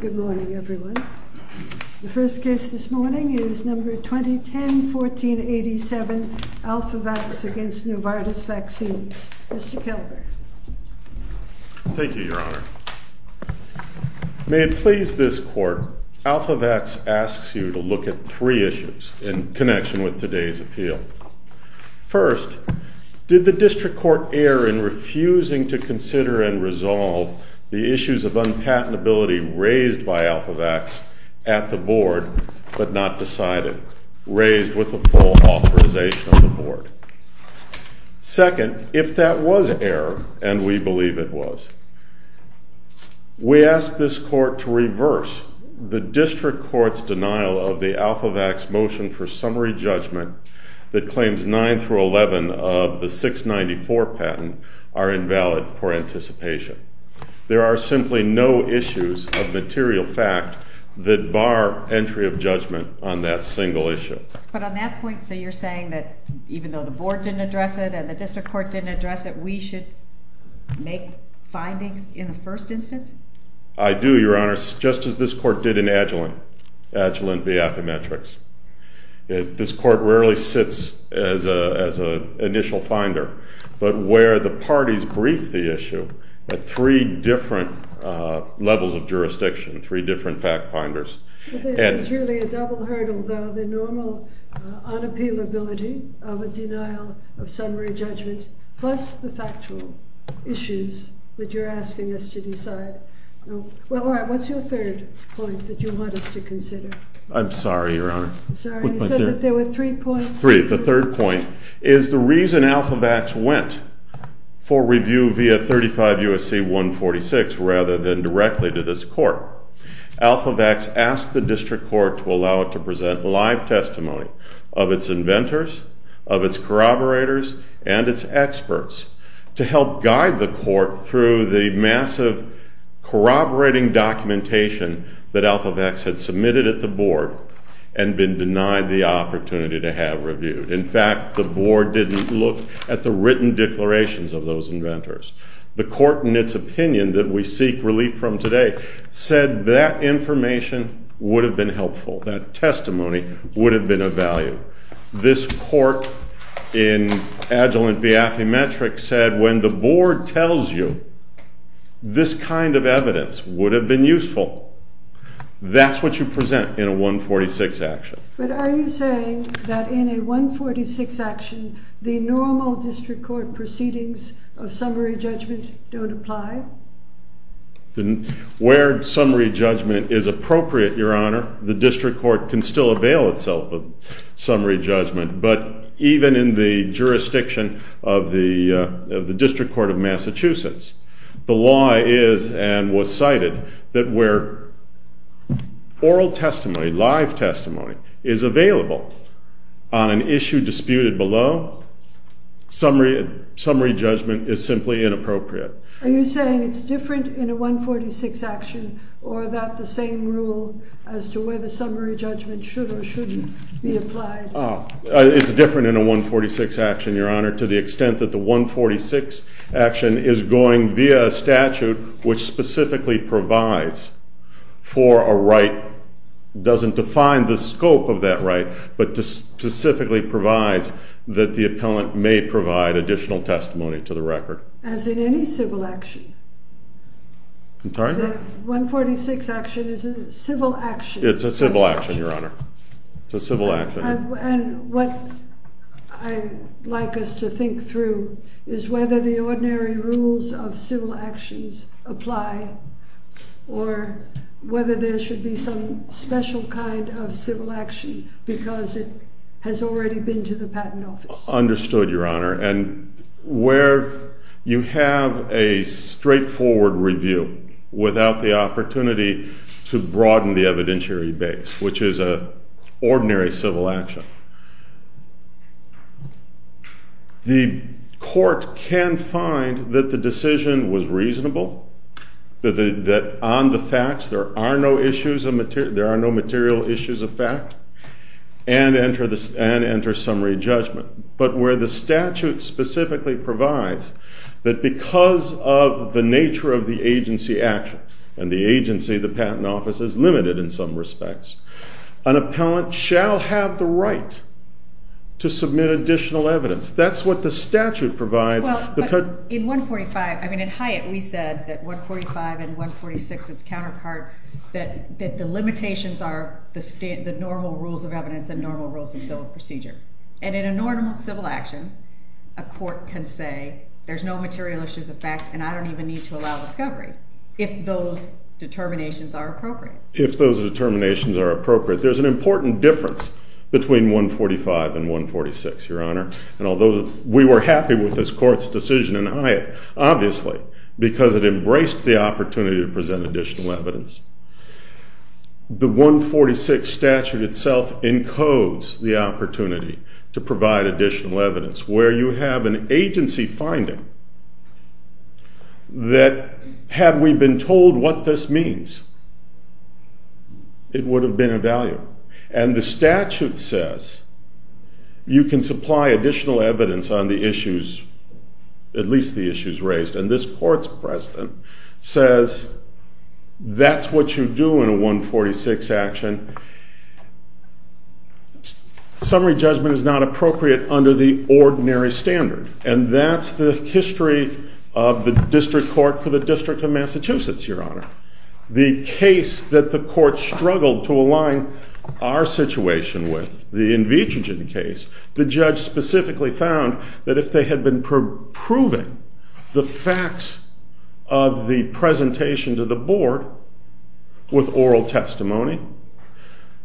Good morning, everyone. The first case this morning is number 2010-1487, ALPHAVAX v. NOVARTIS VACCINES. Mr. Killeberg. Thank you, Your Honor. May it please this court, ALPHAVAX asks you to look at three issues in connection with today's appeal. First, did the district court err in refusing to consider and resolve the issues of unpatentability raised by ALPHAVAX at the board but not decided, raised with the full authorization of the board? Second, if that was error, and we believe it was, we ask this court to reverse the district court's denial of the ALPHAVAX motion for summary judgment that claims 9 through 11 of the 694 patent are invalid for anticipation. There are simply no issues of material fact that bar entry of judgment on that single issue. But on that point, so you're saying that even though the board didn't address it and the district court didn't address it, we should make findings in the first instance? I do, Your Honor, just as this court did in Agilent v. Affymetrix. This court rarely sits as an initial finder. But where the parties briefed the issue at three different levels of jurisdiction, three different fact finders. It's really a double hurdle, though, the normal unappealability of a denial of summary judgment plus the factual issues that you're asking us to decide. Well, all right, what's your third point that you want us to consider? I'm sorry, Your Honor. Sorry, you said that there were three points? Three. The third point is the reason Alphavax went for review via 35 U.S.C. 146 rather than directly to this court. Alphavax asked the district court to allow it to present live testimony of its inventors, of its corroborators, and its experts to help guide the court through the massive corroborating documentation that Alphavax had submitted at the board and been denied the opportunity to have reviewed. In fact, the board didn't look at the written declarations of those inventors. The court, in its opinion, that we seek relief from today, said that information would have been helpful, that testimony would have been of value. This court, in adjelent via affymetric, said when the board tells you this kind of evidence would have been useful, that's what you present in a 146 action. But are you saying that in a 146 action, the normal district court proceedings of summary judgment don't apply? Where summary judgment is appropriate, Your Honor, the district court can still avail itself of summary judgment. But even in the jurisdiction of the District Court of Massachusetts, the law is and was cited that where oral testimony, live testimony, is available on an issue disputed below, summary judgment is simply inappropriate. Are you saying it's different in a 146 action or about the same rule as to whether summary judgment should or shouldn't be applied? It's different in a 146 action, Your Honor, to the extent that the 146 action is going via a statute which specifically provides for a right, doesn't define the scope of that right, but specifically provides that the appellant may provide additional testimony to the record. As in any civil action. I'm sorry? The 146 action is a civil action. It's a civil action, Your Honor. It's a civil action. And what I'd like us to think through is whether the ordinary rules of civil actions apply or whether there should be some special kind of civil action because it has already been to the patent office. Understood, Your Honor. And where you have a straightforward review without the opportunity to broaden the evidentiary base, which is an ordinary civil action, the court can find that the decision was reasonable, that on the facts there are no issues of material, there are no material issues of fact, and enter summary judgment. But where the statute specifically provides that because of the nature of the agency action, and the agency, the patent office, is limited in some respects, an appellant shall have the right to submit additional evidence. That's what the statute provides. In 145, I mean, in Hyatt, we said that 145 and 146, its counterpart, that the limitations are the normal rules of evidence and normal rules of civil procedure. And in a normal civil action, a court can say there's no material issues of fact, and I don't even need to allow discovery if those determinations are appropriate. If those determinations are appropriate. There's an important difference between 145 and 146, Your Honor. And although we were happy with this court's decision in Hyatt, obviously, because it embraced the opportunity to present additional evidence, the 146 statute itself encodes the opportunity to provide additional evidence. Where you have an agency finding that, had we been told what this means, it would have been of value. And the statute says, you can supply additional evidence on the issues, at least the issues raised. And this court's precedent says, that's what you do in a 146 action. Summary judgment is not appropriate under the ordinary standard. And that's the history of the District Court for the District of Massachusetts, Your Honor. The case that the court struggled to align our situation with, the Invitrogen case, the judge specifically found that if they had been proving the facts of the presentation to the board with oral testimony,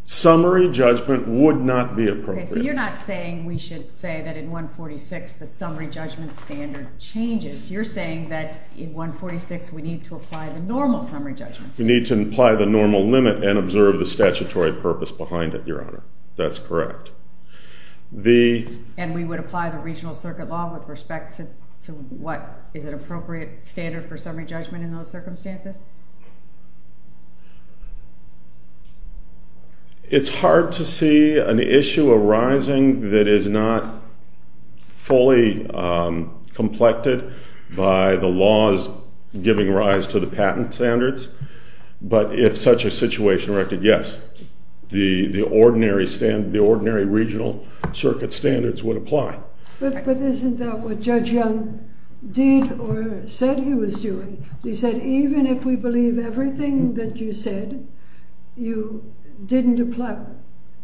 summary judgment would not be appropriate. So you're not saying we should say that in 146 the summary judgment standard changes. You're saying that in 146, we need to apply the normal summary judgments. We need to apply the normal limit and observe the statutory purpose behind it, Your Honor. That's correct. And we would apply the regional circuit law with respect to what is an appropriate standard for summary judgment in those circumstances? It's hard to see an issue arising that is not fully complected by the laws giving rise to the patent standards. But if such a situation erected, yes, the ordinary regional circuit standards would apply. But isn't that what Judge Young did or said he was doing? He said, even if we believe everything that you said, you didn't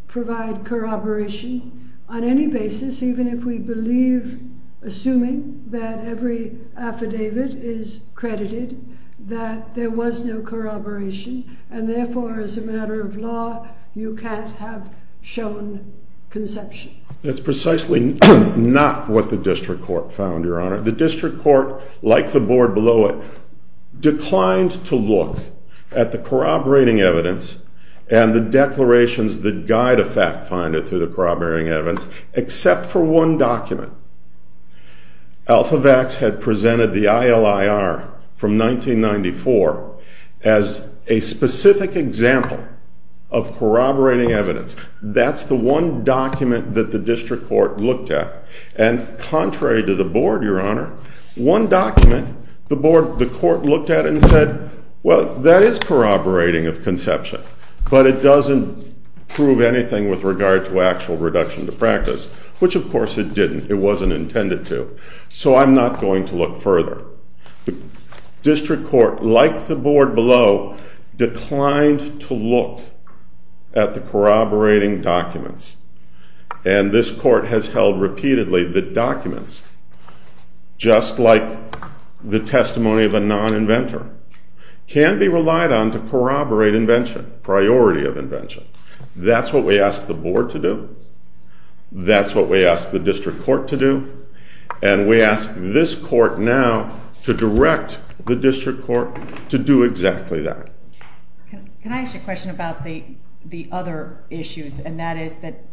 provide corroboration on any basis, even if we believe, assuming that every affidavit is credited, that there was no corroboration. And therefore, as a matter of law, you can't have shown conception. That's precisely not what the district court found, Your Honor. The district court, like the board below it, declined to look at the corroborating evidence and the declarations that guide a fact finder through the corroborating evidence, except for one document. Alphavax had presented the ILIR from 1994 as a specific example of corroborating evidence. That's the one document that the district court looked at. And contrary to the board, Your Honor, one document, the court looked at it and said, well, that is corroborating of conception. But it doesn't prove anything with regard to actual reduction to practice, which, of course, it didn't. It wasn't intended to. So I'm not going to look further. The district court, like the board below, declined to look at the corroborating documents. And this court has held repeatedly that documents, just like the testimony of a non-inventor, can be relied on to corroborate invention, priority of invention. That's what we asked the board to do. That's what we asked the district court to do. And we ask this court now to direct the district court to do exactly that. Can I ask you a question about the other issues? And that is that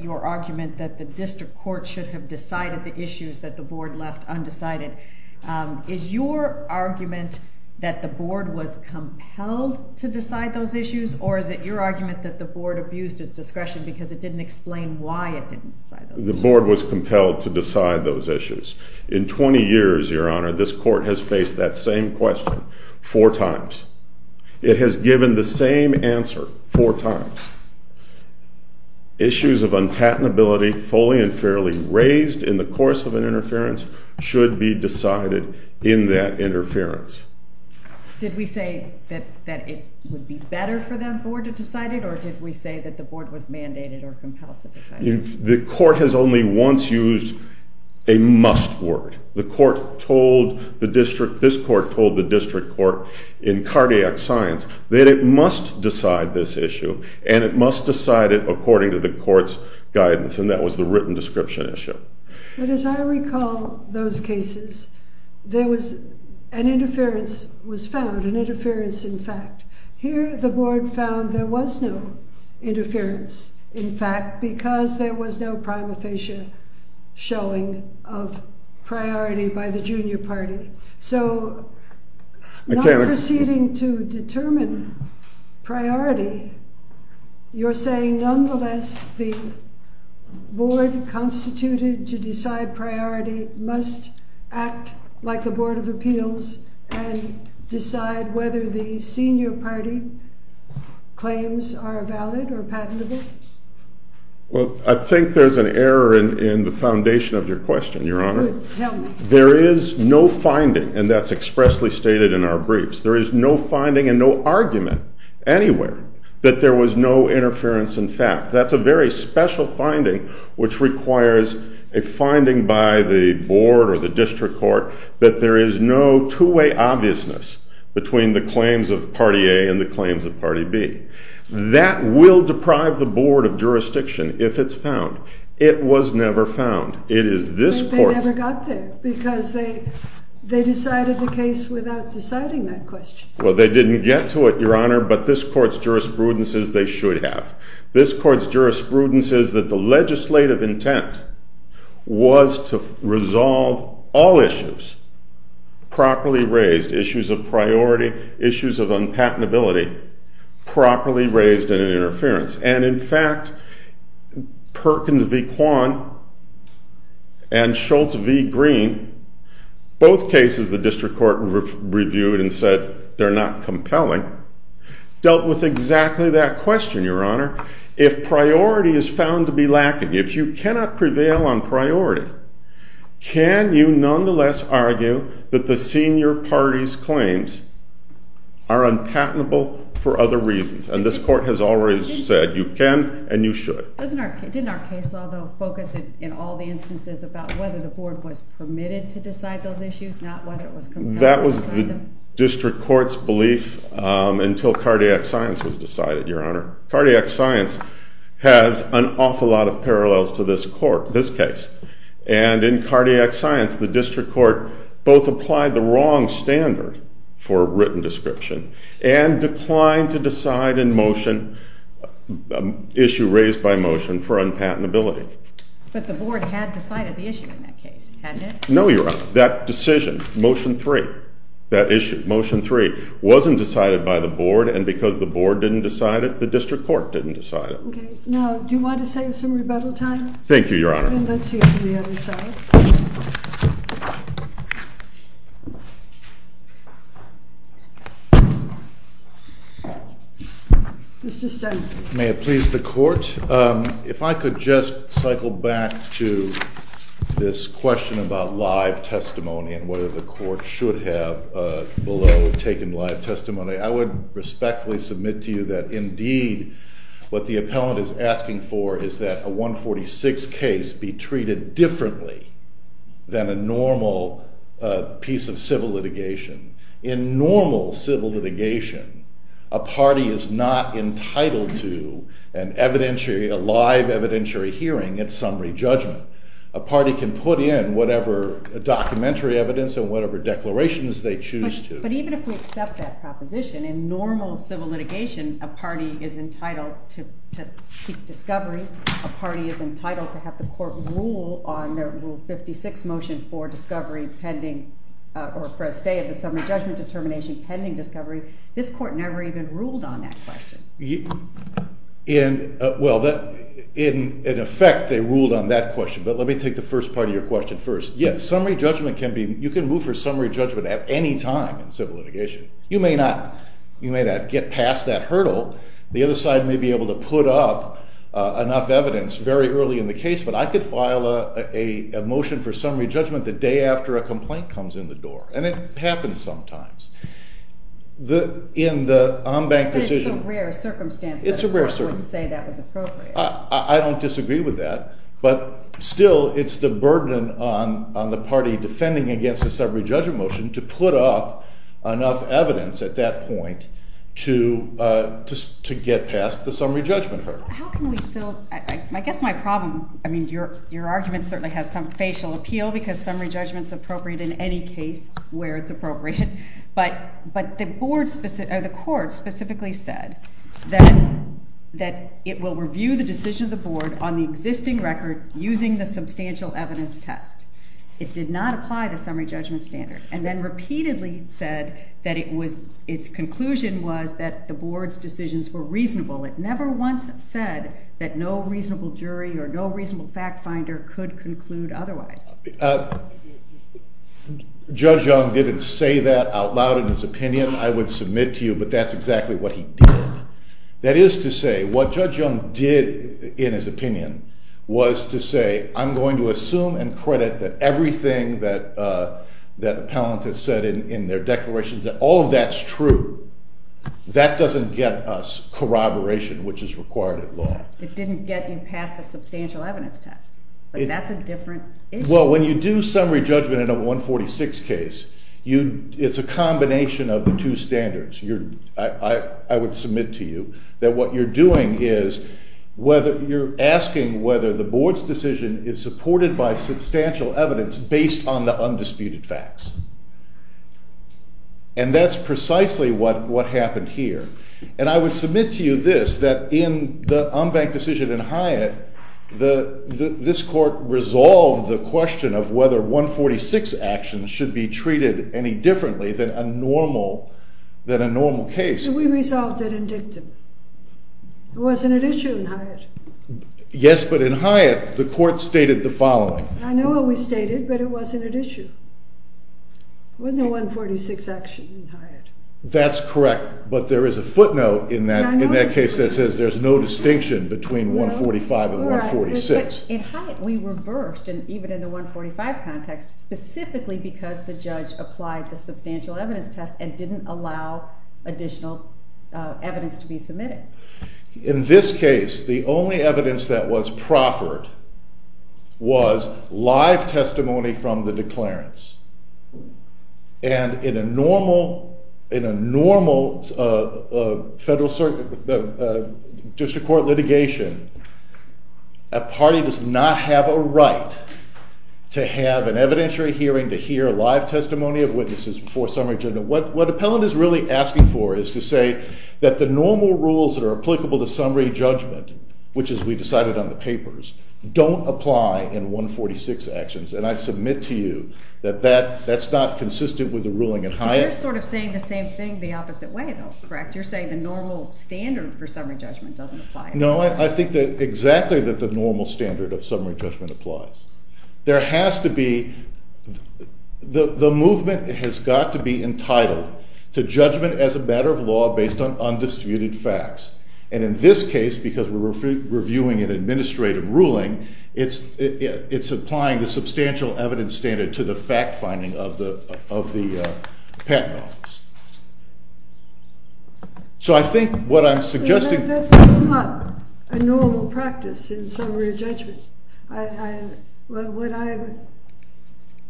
your argument that the district court should have decided the issues that the board left undecided. Is your argument that the board was compelled to decide those issues? Or is it your argument that the board abused its discretion because it didn't explain why it didn't decide those issues? The board was compelled to decide those issues. In 20 years, Your Honor, this court has faced that same question four times. It has given the same answer four times. Issues of unpatentability fully and fairly raised in the course of an interference should be decided in that interference. Did we say that it would be better for the board to decide it? Or did we say that the board was mandated or compelled to decide it? The court has only once used a must word. The court told the district, this court told the district court in cardiac science that it must decide this issue. And it must decide it according to the court's guidance. And that was the written description issue. But as I recall those cases, there an interference was found, an interference in fact. Here the board found there was no interference in fact because there was no prima facie showing of priority by the junior party. So not proceeding to determine priority, you're saying nonetheless the board constituted to decide priority must act like a board of appeals and decide whether the senior party claims are valid or patentable? Well, I think there's an error in the foundation of your question, Your Honor. There is no finding, and that's expressly stated in our briefs. There is no finding and no argument anywhere that there was no interference in fact. That's a very special finding, which requires a finding by the board or the district court that there is no two-way obviousness between the claims of party A and the claims of party B. That will deprive the board of jurisdiction if it's found. It was never found. It is this court's. But they never got there because they decided the case without deciding that question. Well, they didn't get to it, Your Honor, but this court's jurisprudence is they should have. This court's jurisprudence is that the legislative intent was to resolve all issues properly raised, issues of priority, issues of unpatentability properly raised in an interference. And in fact, Perkins v. Kwan and Schultz v. Green, both cases the district court reviewed and said they're not compelling, dealt with exactly that question, if priority is found to be lacking, if you cannot prevail on priority, can you nonetheless argue that the senior party's claims are unpatentable for other reasons? And this court has always said you can and you should. Didn't our case law, though, focus in all the instances about whether the board was permitted to decide those issues, not whether it was compelling? That was the district court's belief until cardiac science was decided, Your Honor. Cardiac science has an awful lot of parallels to this court, this case. And in cardiac science, the district court both applied the wrong standard for a written description and declined to decide an issue raised by motion for unpatentability. But the board had decided the issue in that case, hadn't it? No, Your Honor. That decision, Motion 3, that issue, Motion 3, wasn't decided by the board. And because the board didn't decide it, the district court didn't decide it. OK. Now, do you want to save some rebuttal time? Thank you, Your Honor. Then let's hear from the other side. Mr. Stenberg. May it please the court, if I could just cycle back to this question about live testimony and whether the court should have, below, taken live testimony. I would respectfully submit to you that, indeed, what the appellant is asking for is that a 146 case be treated differently than a normal piece of civil litigation. In normal civil litigation, a party is not entitled to a live evidentiary hearing at summary judgment. A party can put in whatever documentary evidence and whatever declarations they choose to. But even if we accept that proposition, in normal civil litigation, a party is entitled to seek discovery. A party is entitled to have the court rule on their Rule 56 motion for discovery pending, or for a stay of the summary judgment determination pending discovery. This court never even ruled on that question. Well, in effect, they ruled on that question. But let me take the first part of your question first. Yes, summary judgment can be, you can move for summary judgment at any time. In civil litigation, you may not get past that hurdle. The other side may be able to put up enough evidence very early in the case. But I could file a motion for summary judgment the day after a complaint comes in the door. And it happens sometimes. In the ombanked decision. But it's a rare circumstance. It's a rare circumstance. The court wouldn't say that was appropriate. I don't disagree with that. But still, it's the burden on the party defending against a summary judgment motion to put up enough evidence at that point to get past the summary judgment hurdle. How can we still, I guess my problem, I mean, your argument certainly has some facial appeal. Because summary judgment's appropriate in any case where it's appropriate. But the board, or the court, specifically said that it will review the decision of the board on the existing record using the substantial evidence test. It did not apply the summary judgment standard. And then repeatedly said that its conclusion was that the board's decisions were reasonable. It never once said that no reasonable jury or no reasonable fact finder could conclude otherwise. Judge Young didn't say that out loud in his opinion. I would submit to you. But that's exactly what he did. That is to say, what Judge Young did in his opinion was to say, I'm going to assume and credit that everything that appellant has said in their declaration, that all of that's true. That doesn't get us corroboration, which is required at law. It didn't get you past the substantial evidence test. But that's a different issue. Well, when you do summary judgment in a 146 case, it's a combination of the two standards. I would submit to you that what you're doing is you're asking whether the board's decision is supported by substantial evidence based on the undisputed facts. And that's precisely what happened here. And I would submit to you this, that in the Umbach decision in Hyatt, this court resolved the question of whether 146 actions should be treated any differently than a normal case. We resolved it in dictum. It wasn't an issue in Hyatt. Yes, but in Hyatt, the court stated the following. I know what we stated, but it wasn't an issue. It wasn't a 146 action in Hyatt. That's correct. But there is a footnote in that case that says there's no distinction between 145 and 146. In Hyatt, we reversed, even in the 145 context, specifically because the judge applied the substantial evidence test and didn't allow additional evidence to be submitted. In this case, the only evidence that was proffered was live testimony from the declarants. And in a normal district court litigation, a party does not have a right to have an evidentiary hearing to hear live testimony of witnesses before summary judgment. What Appellant is really asking for is to say that the normal rules that are applicable to summary judgment, which is we decided on the papers, don't apply in 146 actions. And I submit to you that that's not consistent with the ruling in Hyatt. You're sort of saying the same thing the opposite way, though, correct? You're saying the normal standard for summary judgment doesn't apply. No, I think that exactly that the normal standard of summary judgment applies. There has to be, the movement has got to be entitled to judgment as a matter of law based on undisputed facts. And in this case, because we're reviewing an administrative ruling, it's applying the substantial evidence standard to the fact-finding of the patent office. So I think what I'm suggesting is not a normal practice in summary judgment. What I'm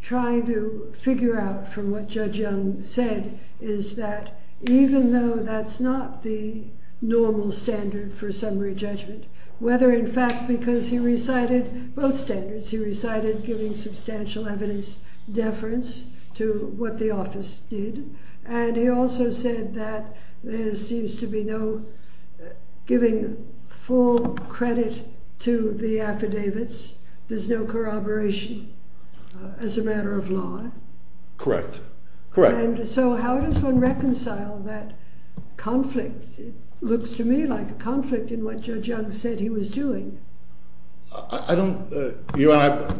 trying to figure out from what Judge Young said is that even though that's not the normal standard for summary judgment, whether in fact because he recited both standards, he recited giving substantial evidence deference to what the office did, and he also said that there seems to be no giving full credit to the affidavits, there's no corroboration as a matter of law. Correct. Correct. So how does one reconcile that conflict? It looks to me like a conflict in what Judge Young said he was doing. I don't,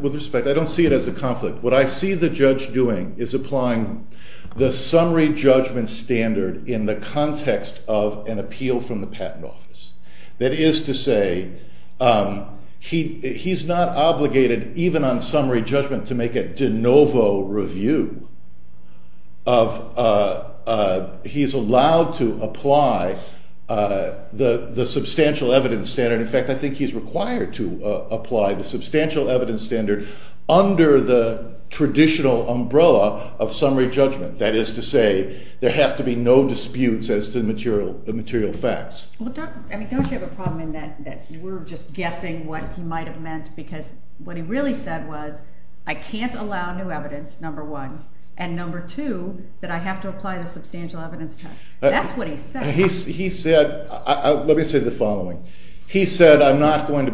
with respect, I don't see it as a conflict. What I see the judge doing is applying the summary judgment standard in the context of an appeal from the patent office. That is to say, he's not obligated, even on summary judgment, to make a de novo review of, he's allowed to apply the substantial evidence standard. In fact, I think he's required to apply the substantial evidence standard under the traditional umbrella of summary judgment. That is to say, there have to be no disputes as to the material facts. I mean, don't you have a problem in that we're just guessing what he might have meant? Because what he really said was, I can't allow new evidence, number one, and number two, that I have to apply the substantial evidence test. That's what he said. He said, let me say the following. He said, I'm not going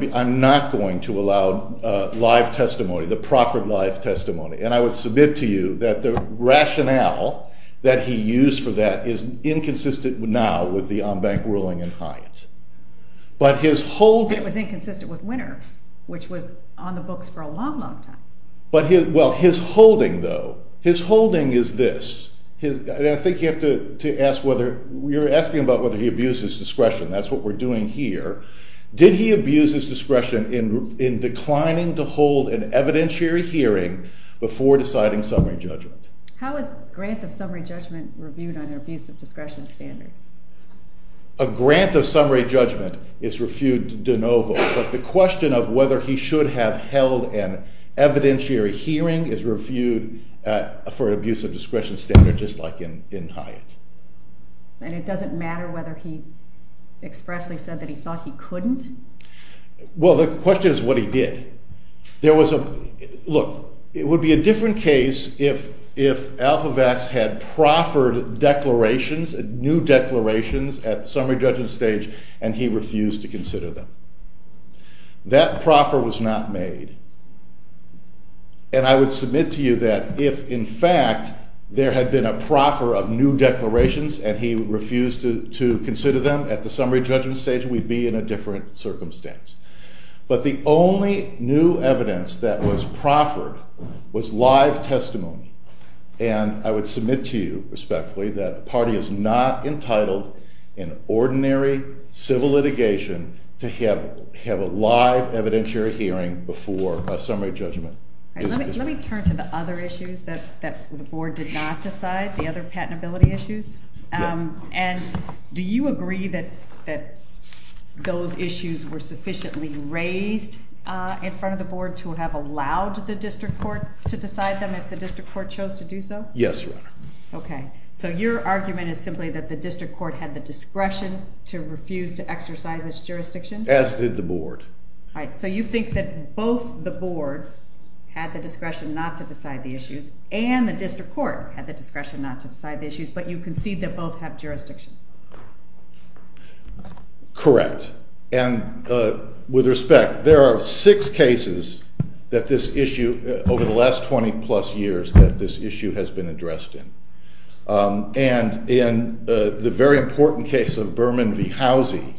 to allow live testimony, the proffered live testimony. And I would submit to you that the rationale that he used for that is inconsistent now with the Ombank ruling in Hyatt. But his whole- And it was inconsistent with Winter, which was on the books for a long, long time. Well, his holding, though, his holding is this. I think you have to ask whether, you're asking about whether he abused his discretion. That's what we're doing here. Did he abuse his discretion in declining to hold an evidentiary hearing before deciding summary judgment? How is a grant of summary judgment reviewed on an abuse of discretion standard? A grant of summary judgment is reviewed de novo. But the question of whether he should have held an evidentiary hearing is reviewed for an abuse of discretion standard, just like in Hyatt. And it doesn't matter whether he expressly said that he thought he couldn't? Well, the question is what he did. There was a, look, it would be a different case if Alphavax had proffered declarations, new declarations at summary judgment stage, and he refused to consider them. That proffer was not made. And I would submit to you that if, in fact, there had been a proffer of new declarations and he refused to consider them at the summary judgment stage, we'd be in a different circumstance. But the only new evidence that was proffered was live testimony. And I would submit to you respectfully that the party is not entitled in ordinary civil litigation to have a live evidentiary hearing before a summary judgment. Let me turn to the other issues that the board did not decide, the other patentability issues. And do you agree that those issues were sufficiently raised in front of the board to have allowed the district court to decide them if the district court chose to do so? Yes, Your Honor. OK. So your argument is simply that the district court had the discretion to refuse to exercise its jurisdiction? As did the board. So you think that both the board had the discretion not to decide the issues, and the district court had the discretion not to decide the issues. But you concede that both have jurisdiction. Correct. And with respect, there are six cases that this issue, over the last 20 plus years, that this issue has been addressed in. And in the very important case of Berman v. Housie,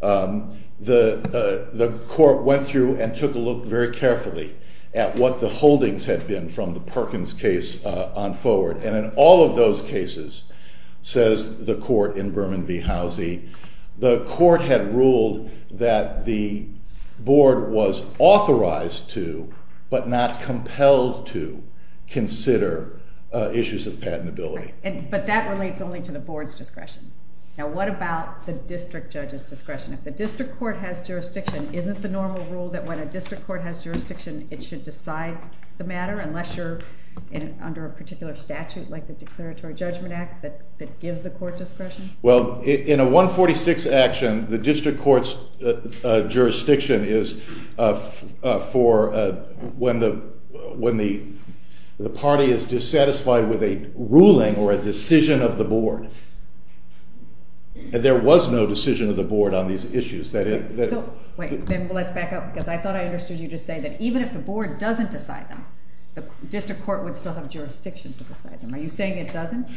the court went through and took a look very carefully at what the holdings had been from the Perkins case on forward. And in all of those cases, says the court in Berman v. Housie, the court had ruled that the board was authorized to, but not compelled to, consider issues of patentability. But that relates only to the board's discretion. Now, what about the district judge's discretion? If the district court has jurisdiction, isn't the normal rule that when a district court has jurisdiction, it should decide the matter, unless you're under a particular statute, like the Declaratory Judgment Act, that gives the court discretion? Well, in a 146 action, the district court's jurisdiction is for when the party is dissatisfied with a ruling or a decision of the board. There was no decision of the board on these issues. So wait, then let's back up, because I thought I understood you to say that even if the board doesn't decide them, the district court would still have jurisdiction to decide them. Are you saying it doesn't?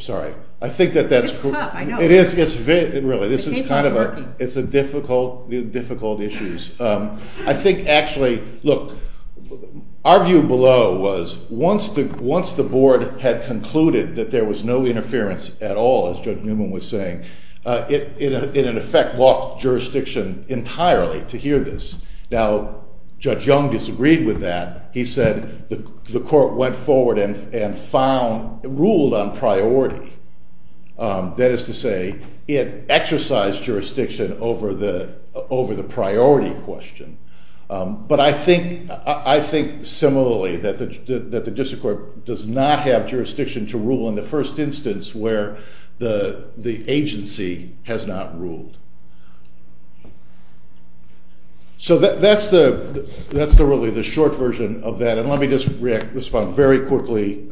Sorry. I think that that's true. It's tough, I know. It is. Really, this is kind of a difficult, difficult issues. I think, actually, look, our view below was once the board had concluded that there was no interference at all, as Judge Newman was saying, it, in effect, blocked jurisdiction entirely to hear this. Now, Judge Young disagreed with that. He said the court went forward and ruled on priority. That is to say, it exercised jurisdiction over the priority question. But I think, similarly, that the district court does not have jurisdiction to rule in the first instance where the agency has not ruled. So that's really the short version of that. And let me just respond very quickly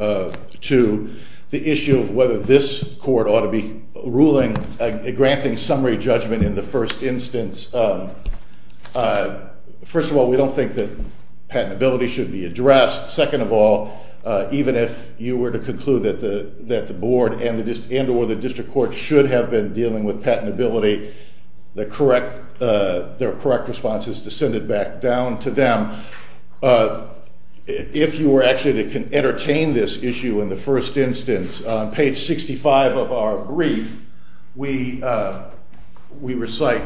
to the issue of whether this court ought to be granting summary judgment in the first instance. First of all, we don't think that patentability should be addressed. Second of all, even if you were to conclude that the board and or the district court should have been dealing with patentability, the correct responses descended back down to them. If you were actually to entertain this issue in the first instance, on page 65 of our brief, we recite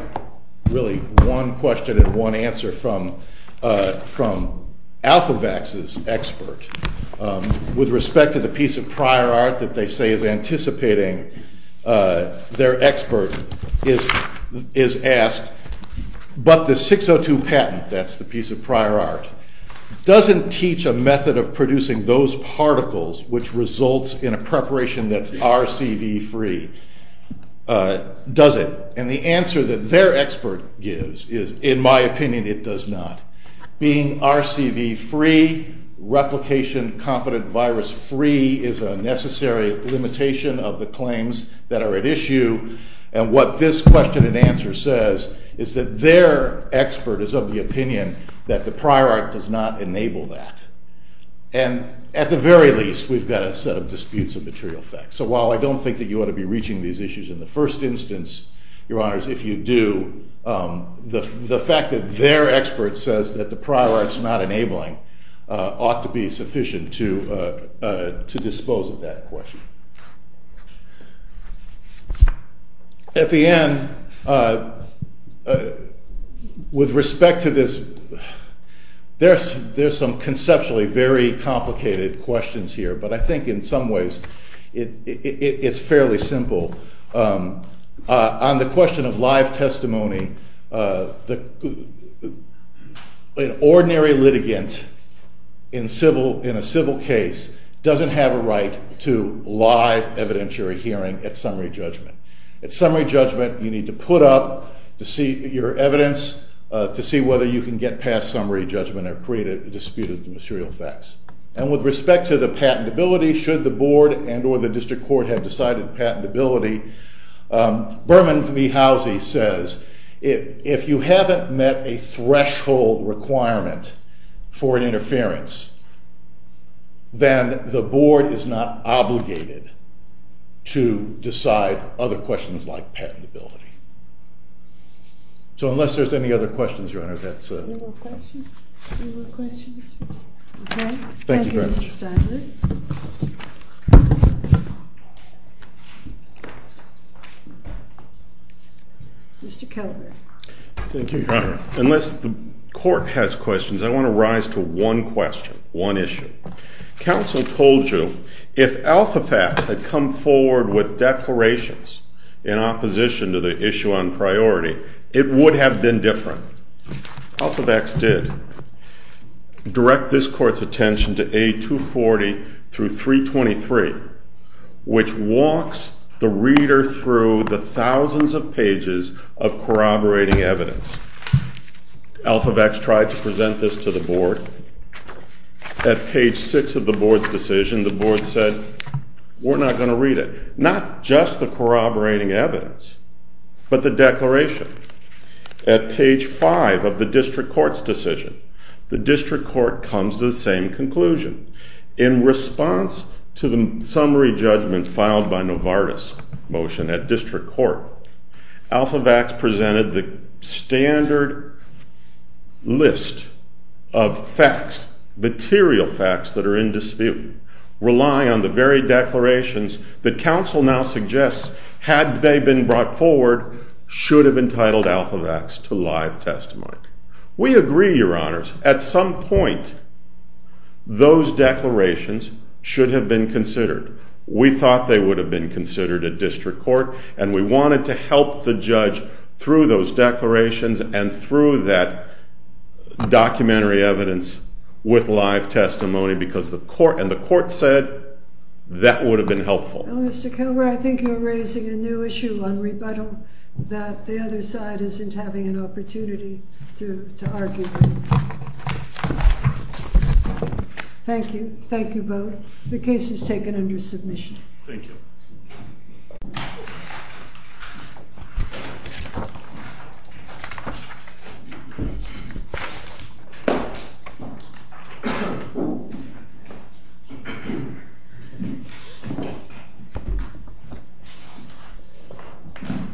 really one question and one answer from Alphavax's expert. With respect to the piece of prior art that they say is anticipating, their expert is asked, but the 602 patent, that's the piece of prior art, doesn't teach a method of producing those particles which results in a preparation that's RCV-free, does it? And the answer that their expert gives is, in my opinion, it does not. Being RCV-free, replication-competent virus-free, is a necessary limitation of the claims that are at issue. And what this question and answer says is that their expert is of the opinion that the prior art does not enable that. And at the very least, we've got a set of disputes of material effect. So while I don't think that you ought to be reaching these issues in the first instance, your honors, if you do, the fact that their expert says that the prior art's not enabling ought to be sufficient to dispose of that question. At the end, with respect to this, there's some conceptually very complicated questions here. But I think in some ways, it's fairly simple. On the question of live testimony, an ordinary litigant in a civil case doesn't have a right to live evidentiary hearing at summary judgment. At summary judgment, you need to put up your evidence to see whether you can get past summary judgment or create a dispute of the material effects. And with respect to the patentability, should the board and or the district court have decided patentability, Berman V. Housey says, if you haven't met a threshold requirement for an interference, then the board is not obligated to decide other questions like patentability. So unless there's any other questions, your honor, that's it. Any more questions? Any more questions? OK. Thank you, Mr. Steinberg. Mr. Kelleher. Thank you, your honor. Unless the court has questions, I want to rise to one question, one issue. Counsel told you, if Alpha Facts had come forward with declarations in opposition to the issue on priority, it would have been different. Alpha Facts did direct this court's attention to A240 through 323, which walks the reader through the thousands of pages of corroborating evidence. Alpha Facts tried to present this to the board. At page six of the board's decision, the board said, we're not going to read it. Not just the corroborating evidence, but the declaration. At page five of the district court's decision, the district court comes to the same conclusion. In response to the summary judgment filed by Novartis' motion at district court, Alpha Facts presented the standard list of facts, material facts that are in dispute, rely on the very declarations that counsel now suggests, had they been brought forward, should have entitled Alpha Facts to live testimony. We agree, your honors. At some point, those declarations should have been considered. We thought they would have been considered at district court, and we wanted to help the judge through those declarations and through that documentary evidence with live testimony, because the court said that would have been helpful. Well, Mr. Kilgour, I think you're raising a new issue on rebuttal, that the other side isn't having an opportunity to argue. Thank you. Thank you both. The case is taken under submission. Thank you. Thank you.